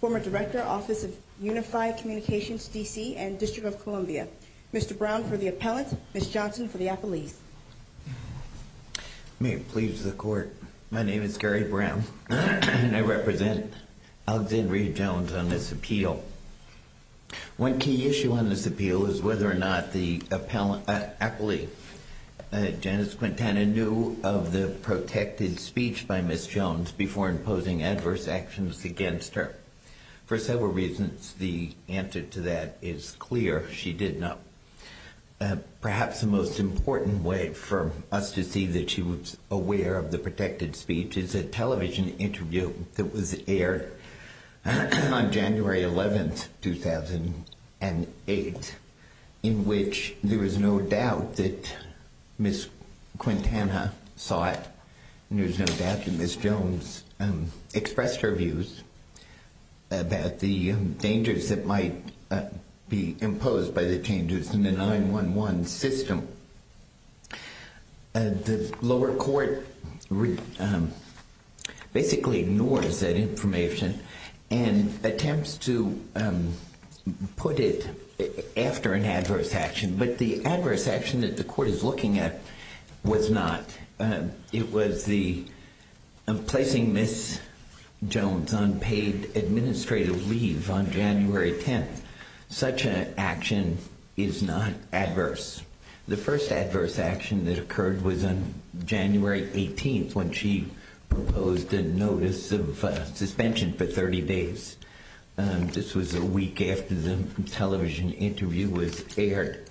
Former Director, Office of Unified Communications, D.C. and District of Columbia Mr. Brown for the Appellant, Ms. Johnson for the Appellees May it please the Court, my name is Gary Brown and I represent Alexandria Jones on this appeal. One key issue on this appeal is whether or not the Appellant is a member of the District of Columbia. The Appellate, Janice Quintana, knew of the protected speech by Ms. Jones before imposing adverse actions against her. For several reasons, the answer to that is clear, she did not. Perhaps the most important way for us to see that she was aware of the protected speech is a television interview that was aired on January 11, 2008 in which there was no doubt that Ms. Quintana saw it and there was no doubt that Ms. Jones expressed her views about the dangers that might be imposed by the changes in the 9-1-1 system. The lower court basically ignores that information and attempts to put it after an adverse action, but the adverse action that the court is looking at was not. It was the placing Ms. Jones on paid administrative leave on January 10th. Such an action is not adverse. The first adverse action that occurred was on January 18th when she proposed a notice of suspension for 30 days. This was a week after the television interview was aired.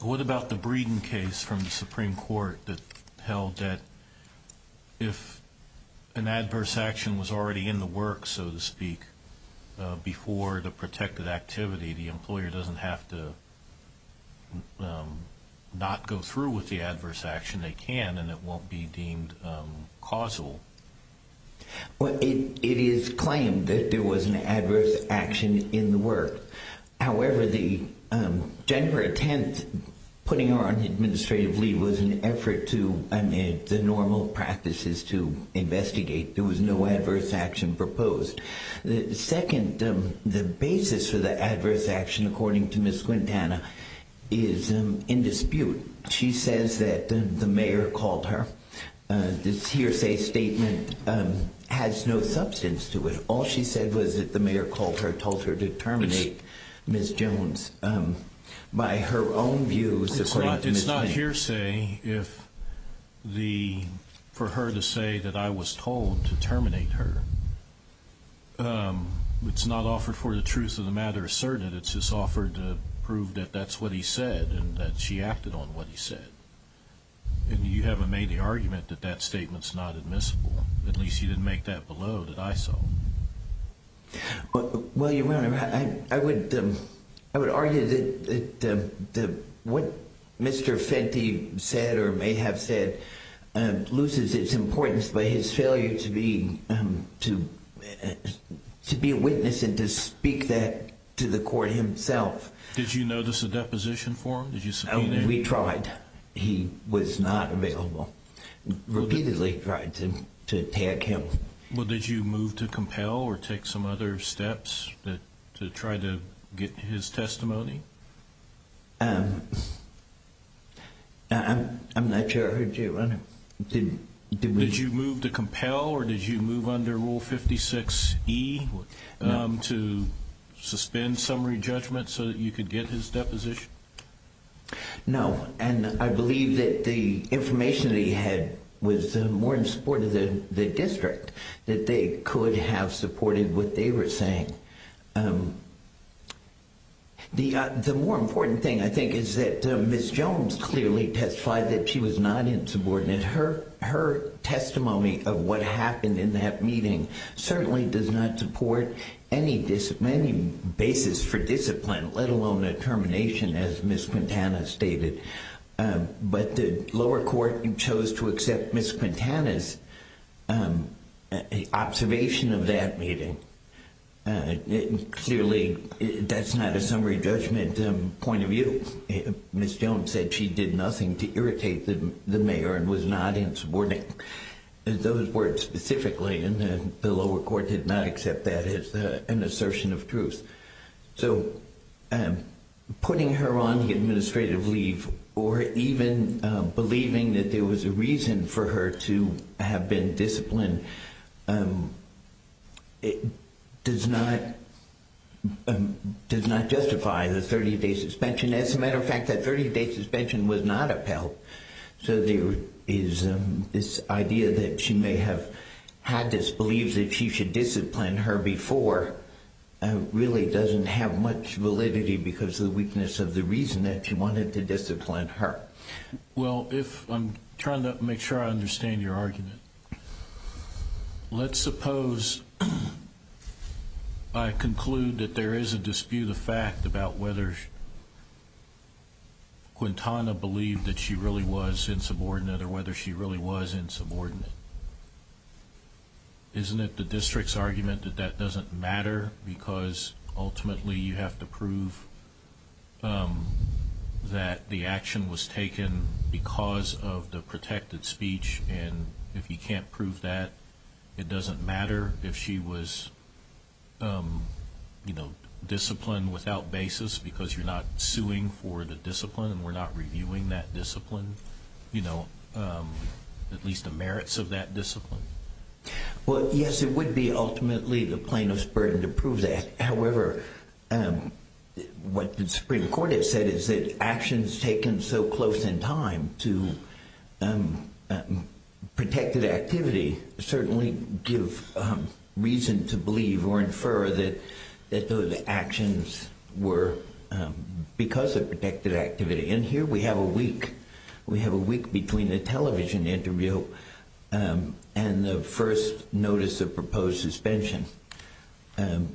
What about the Breeden case from the Supreme Court that held that if an adverse action was already in the works, so to speak, before the protected activity, the employer doesn't have to not go through with the adverse action. They can and it won't be deemed causal. It is claimed that there was an adverse action in the work. However, the January 10th putting her on administrative leave was an effort to amend the normal practices to investigate. There was no adverse action proposed. Second, the basis for the adverse action, according to Ms. Quintana, is in dispute. She says that the mayor called her. This hearsay statement has no substance to it. All she said was that the mayor called her, told her to terminate Ms. Jones. By her own views, according to Ms. Quintana. It's not hearsay for her to say that I was told to terminate her. It's not offered for the truth of the matter asserted. It's just offered to prove that that's what he said and that she acted on what he said. And you haven't made the argument that that statement's not admissible. At least you didn't make that below that I saw. Well, Your Honor, I would argue that what Mr. Fenty said or may have said loses its importance by his failure to be a witness and to speak that to the court himself. Did you notice a deposition for him? Did you subpoena him? We tried. But he was not available. Repeatedly tried to tag him. Well, did you move to compel or take some other steps to try to get his testimony? I'm not sure I heard you, Your Honor. Did you move to compel or did you move under Rule 56E to suspend summary judgment so that you could get his deposition? No, and I believe that the information that he had was more in support of the district, that they could have supported what they were saying. The more important thing, I think, is that Ms. Jones clearly testified that she was not insubordinate. Her testimony of what happened in that meeting certainly does not support any basis for discipline, let alone a termination, as Ms. Quintana stated. But the lower court chose to accept Ms. Quintana's observation of that meeting. Clearly, that's not a summary judgment point of view. Ms. Jones said she did nothing to irritate the mayor and was not insubordinate. Those words specifically, and the lower court did not accept that as an assertion of truth. So putting her on the administrative leave or even believing that there was a reason for her to have been disciplined does not justify the 30-day suspension. As a matter of fact, that 30-day suspension was not upheld. So this idea that she may have had this belief that she should discipline her before really doesn't have much validity because of the weakness of the reason that she wanted to discipline her. Well, I'm trying to make sure I understand your argument. Let's suppose I conclude that there is a dispute of fact about whether Quintana believed that she really was insubordinate or whether she really was insubordinate. Isn't it the district's argument that that doesn't matter because ultimately you have to prove that the action was taken because of the protected speech? And if you can't prove that, it doesn't matter if she was disciplined without basis because you're not suing for the discipline and we're not reviewing that discipline? At least the merits of that discipline? Well, yes, it would be ultimately the plaintiff's burden to prove that. However, what the Supreme Court has said is that actions taken so close in time to protected activity certainly give reason to believe or infer that those actions were because of protected activity. And here we have a week. We have a week between the television interview and the first notice of proposed suspension. And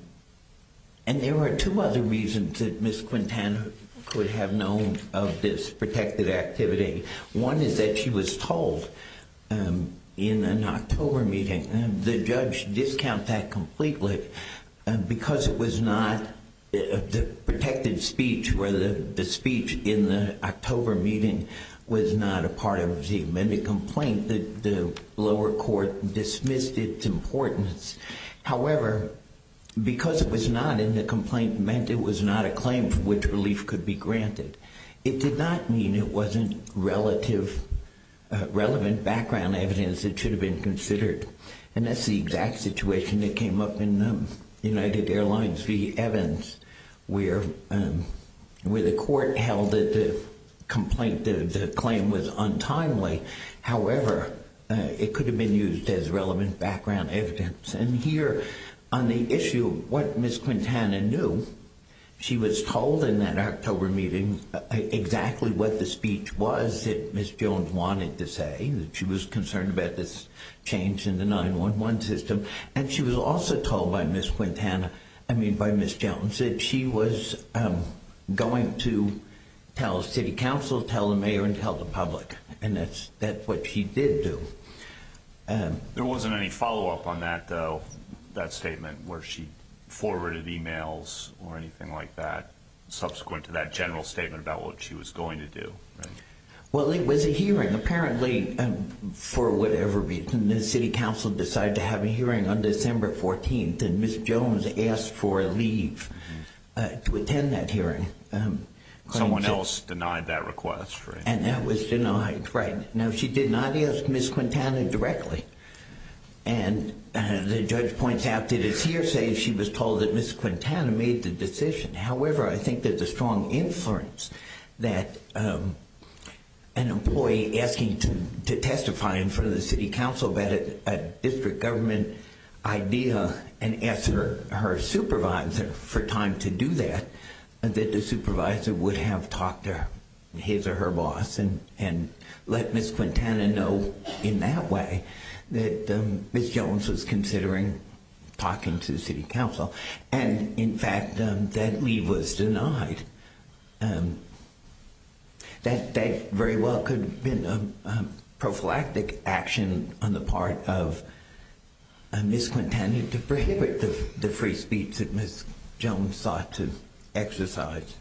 there are two other reasons that Ms. Quintana could have known of this protected activity. One is that she was told in an October meeting. The judge discounted that completely because it was not the protected speech where the speech in the October meeting was not a part of the amendment complaint. The lower court dismissed its importance. However, because it was not in the complaint meant it was not a claim for which relief could be granted. It did not mean it wasn't relevant background evidence that should have been considered. And that's the exact situation that came up in United Airlines v. Evans where the court held that the complaint, the claim was untimely. However, it could have been used as relevant background evidence. And here on the issue of what Ms. Quintana knew, she was told in that October meeting exactly what the speech was that Ms. Jones wanted to say. She was concerned about this change in the 9-1-1 system. And she was also told by Ms. Quintana, I mean by Ms. Jones, that she was going to tell city council, tell the mayor, and tell the public. And that's what she did do. There wasn't any follow-up on that statement where she forwarded emails or anything like that subsequent to that general statement about what she was going to do. Well, it was a hearing apparently for whatever reason. The city council decided to have a hearing on December 14th and Ms. Jones asked for a leave to attend that hearing. Someone else denied that request. And that was denied, right. Now, she did not ask Ms. Quintana directly. And the judge points out that it's hearsay. She was told that Ms. Quintana made the decision. However, I think that the strong influence that an employee asking to testify in front of the city council about a district government idea and asked her supervisor for time to do that, that the supervisor would have talked to his or her boss and let Ms. Quintana know in that way that Ms. Jones was considering talking to city council. And, in fact, that leave was denied. That very well could have been a prophylactic action on the part of Ms. Quintana to prohibit the free speech that Ms. Jones sought to exercise.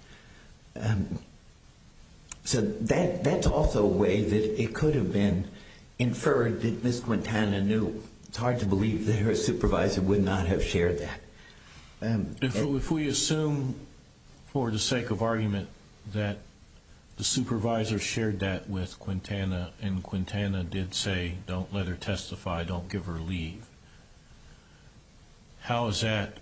So that's also a way that it could have been inferred that Ms. Quintana knew. It's hard to believe that her supervisor would not have shared that. If we assume for the sake of argument that the supervisor shared that with Quintana and Quintana did say don't let her testify, don't give her leave, how is that,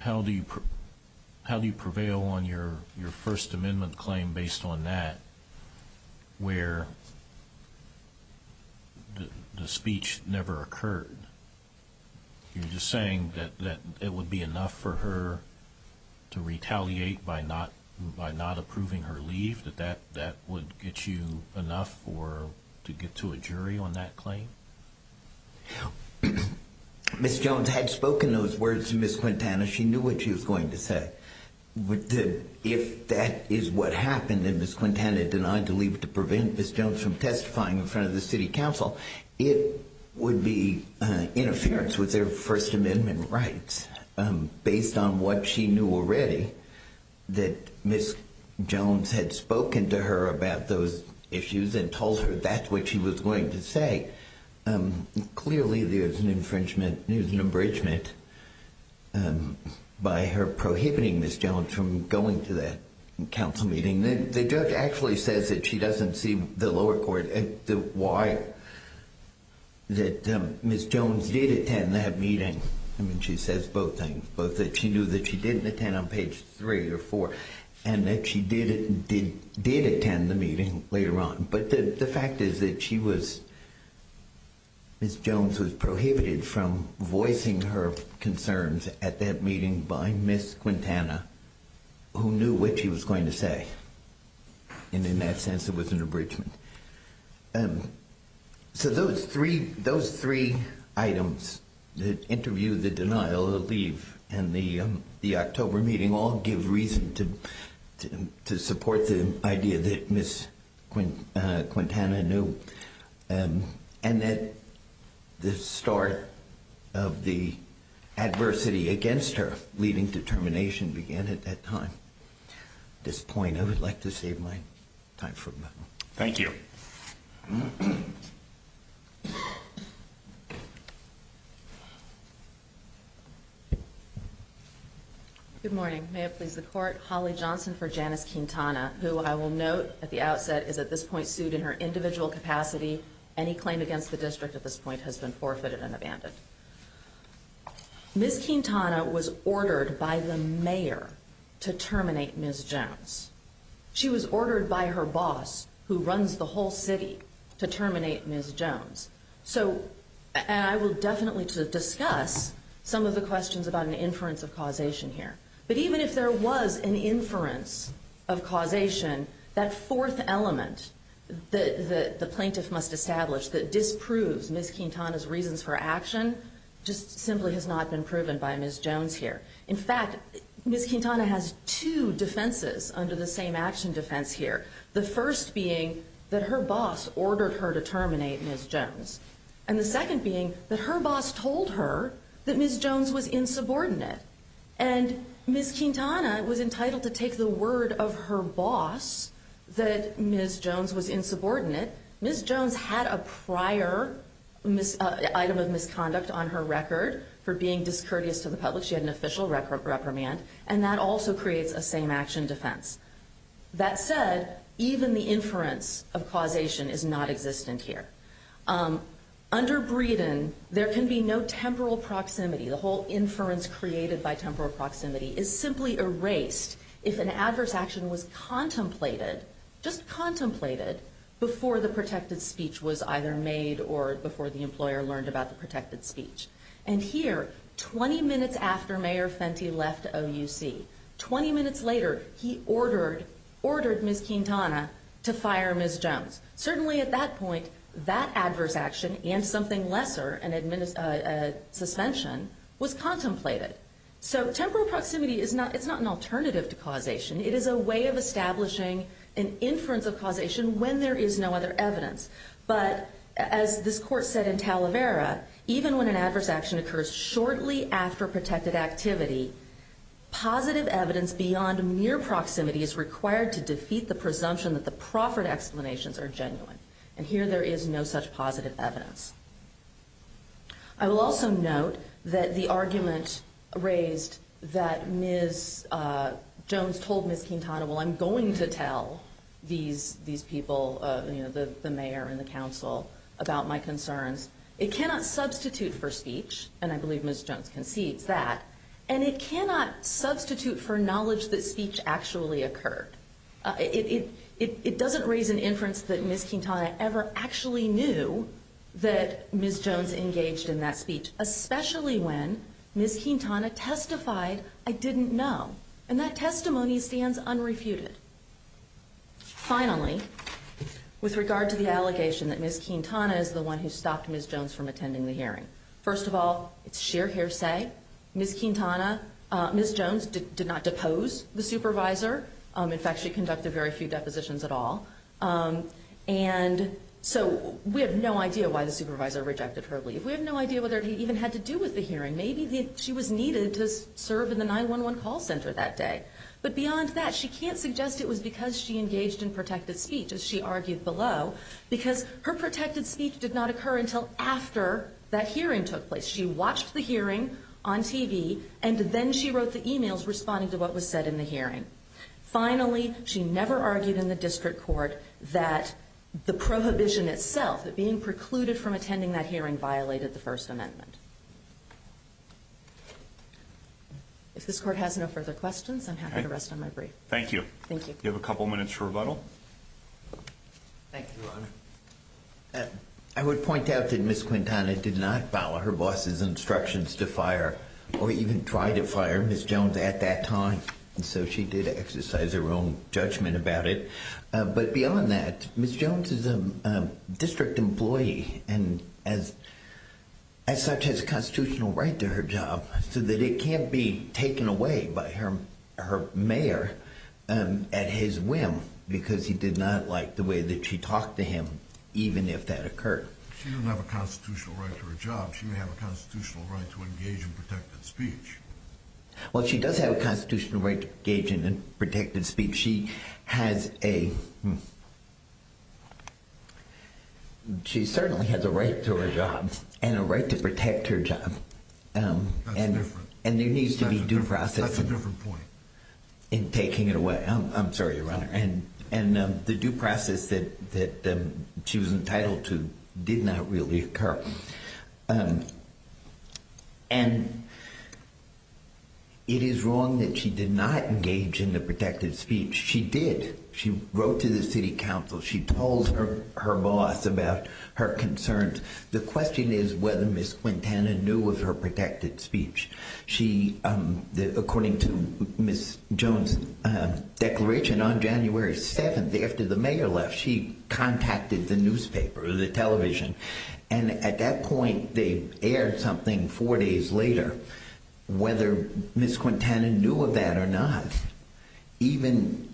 how do you prevail on your First Amendment claim based on that where the speech never occurred? You're just saying that it would be enough for her to retaliate by not approving her leave? That that would get you enough to get to a jury on that claim? Ms. Jones had spoken those words to Ms. Quintana. She knew what she was going to say. If that is what happened and Ms. Quintana denied to leave to prevent Ms. Jones from testifying in front of the city council, it would be interference with their First Amendment rights based on what she knew already, that Ms. Jones had spoken to her about those issues and told her that's what she was going to say. Clearly there's an infringement, there's an abridgment by her prohibiting Ms. Jones from going to that council meeting. The judge actually says that she doesn't see the lower court, the why that Ms. Jones did attend that meeting. I mean she says both things. Both that she knew that she didn't attend on page three or four and that she did attend the meeting later on. But the fact is that she was, Ms. Jones was prohibited from voicing her concerns at that meeting by Ms. Quintana, who knew what she was going to say. And in that sense it was an abridgment. So those three items, the interview, the denial, the leave, and the October meeting all give reason to support the idea that Ms. Quintana knew. And that the start of the adversity against her leaving to termination began at that time. At this point I would like to save my time for a moment. Thank you. Good morning. May it please the court. Holly Johnson for Janice Quintana, who I will note at the outset is at this point sued in her individual capacity. Any claim against the district at this point has been forfeited and abandoned. Ms. Quintana was ordered by the mayor to terminate Ms. Jones. She was ordered by her boss, who runs the whole city, to terminate Ms. Jones. So, and I will definitely discuss some of the questions about an inference of causation here. But even if there was an inference of causation, that fourth element that the plaintiff must establish that disproves Ms. Quintana's reasons for action, just simply has not been proven by Ms. Jones here. In fact, Ms. Quintana has two defenses under the same action defense here. The first being that her boss ordered her to terminate Ms. Jones. And the second being that her boss told her that Ms. Jones was insubordinate. And Ms. Quintana was entitled to take the word of her boss that Ms. Jones was insubordinate. Ms. Jones had a prior item of misconduct on her record for being discourteous to the public. She had an official reprimand. And that also creates a same action defense. That said, even the inference of causation is not existent here. Under Breeden, there can be no temporal proximity. The whole inference created by temporal proximity is simply erased if an adverse action was contemplated, just contemplated, before the protected speech was either made or before the employer learned about the protected speech. And here, 20 minutes after Mayor Fenty left OUC, 20 minutes later, he ordered Ms. Quintana to fire Ms. Jones. Certainly at that point, that adverse action and something lesser, a suspension, was contemplated. So temporal proximity is not an alternative to causation. It is a way of establishing an inference of causation when there is no other evidence. But as this court said in Talavera, even when an adverse action occurs shortly after protected activity, positive evidence beyond mere proximity is required to defeat the presumption that the proffered explanations are genuine. And here, there is no such positive evidence. I will also note that the argument raised that Ms. Jones told Ms. Quintana, well, I'm going to tell these people, the mayor and the council, about my concerns, it cannot substitute for speech, and I believe Ms. Jones concedes that, and it cannot substitute for knowledge that speech actually occurred. It doesn't raise an inference that Ms. Quintana ever actually knew that Ms. Jones engaged in that speech, especially when Ms. Quintana testified, I didn't know. And that testimony stands unrefuted. Finally, with regard to the allegation that Ms. Quintana is the one who stopped Ms. Jones from attending the hearing, first of all, it's sheer hearsay. Ms. Quintana, Ms. Jones did not depose the supervisor. In fact, she conducted very few depositions at all. And so we have no idea why the supervisor rejected her leave. We have no idea whether it even had to do with the hearing. Maybe she was needed to serve in the 911 call center that day. But beyond that, she can't suggest it was because she engaged in protected speech, as she argued below, because her protected speech did not occur until after that hearing took place. She watched the hearing on TV, and then she wrote the e-mails responding to what was said in the hearing. Finally, she never argued in the district court that the prohibition itself, that being precluded from attending that hearing violated the First Amendment. If this Court has no further questions, I'm happy to rest on my brief. Thank you. Thank you. Do you have a couple minutes for rebuttal? Thank you, Your Honor. I would point out that Ms. Quintana did not follow her boss's instructions to fire or even try to fire Ms. Jones at that time. And so she did exercise her own judgment about it. But beyond that, Ms. Jones is a district employee and as such has a constitutional right to her job so that it can't be taken away by her mayor at his whim because he did not like the way that she talked to him, even if that occurred. She didn't have a constitutional right to her job. She didn't have a constitutional right to engage in protected speech. Well, she does have a constitutional right to engage in protected speech. She certainly has a right to her job and a right to protect her job. And there needs to be due process in taking it away. I'm sorry, Your Honor. And the due process that she was entitled to did not really occur. And it is wrong that she did not engage in the protected speech. She did. She wrote to the city council. She told her boss about her concerns. The question is whether Ms. Quintana knew of her protected speech. According to Ms. Jones' declaration, on January 7th, after the mayor left, she contacted the newspaper, the television. And at that point, they aired something four days later, whether Ms. Quintana knew of that or not. Even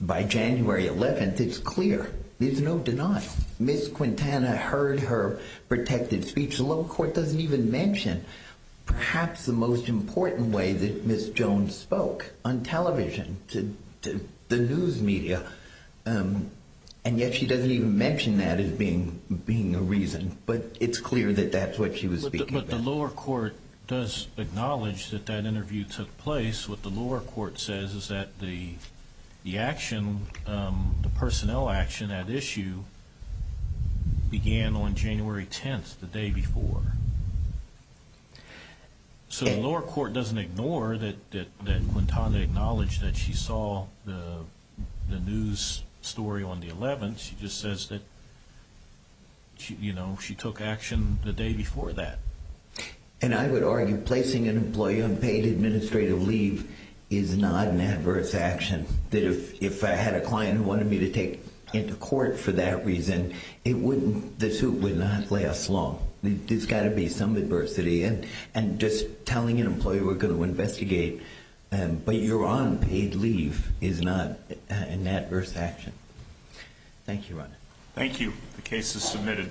by January 11th, it's clear. There's no denial. Ms. Quintana heard her protected speech. The local court doesn't even mention perhaps the most important way that Ms. Jones spoke on television to the news media. And yet she doesn't even mention that as being a reason. But it's clear that that's what she was speaking about. But the lower court does acknowledge that that interview took place. What the lower court says is that the action, the personnel action at issue, began on January 10th, the day before. So the lower court doesn't ignore that Quintana acknowledged that she saw the news story on the 11th. She just says that, you know, she took action the day before that. And I would argue placing an employee on paid administrative leave is not an adverse action. If I had a client who wanted me to take him to court for that reason, the suit would not last long. There's got to be some adversity. And just telling an employee we're going to investigate but you're on paid leave is not an adverse action. Thank you, Ron. The case is submitted.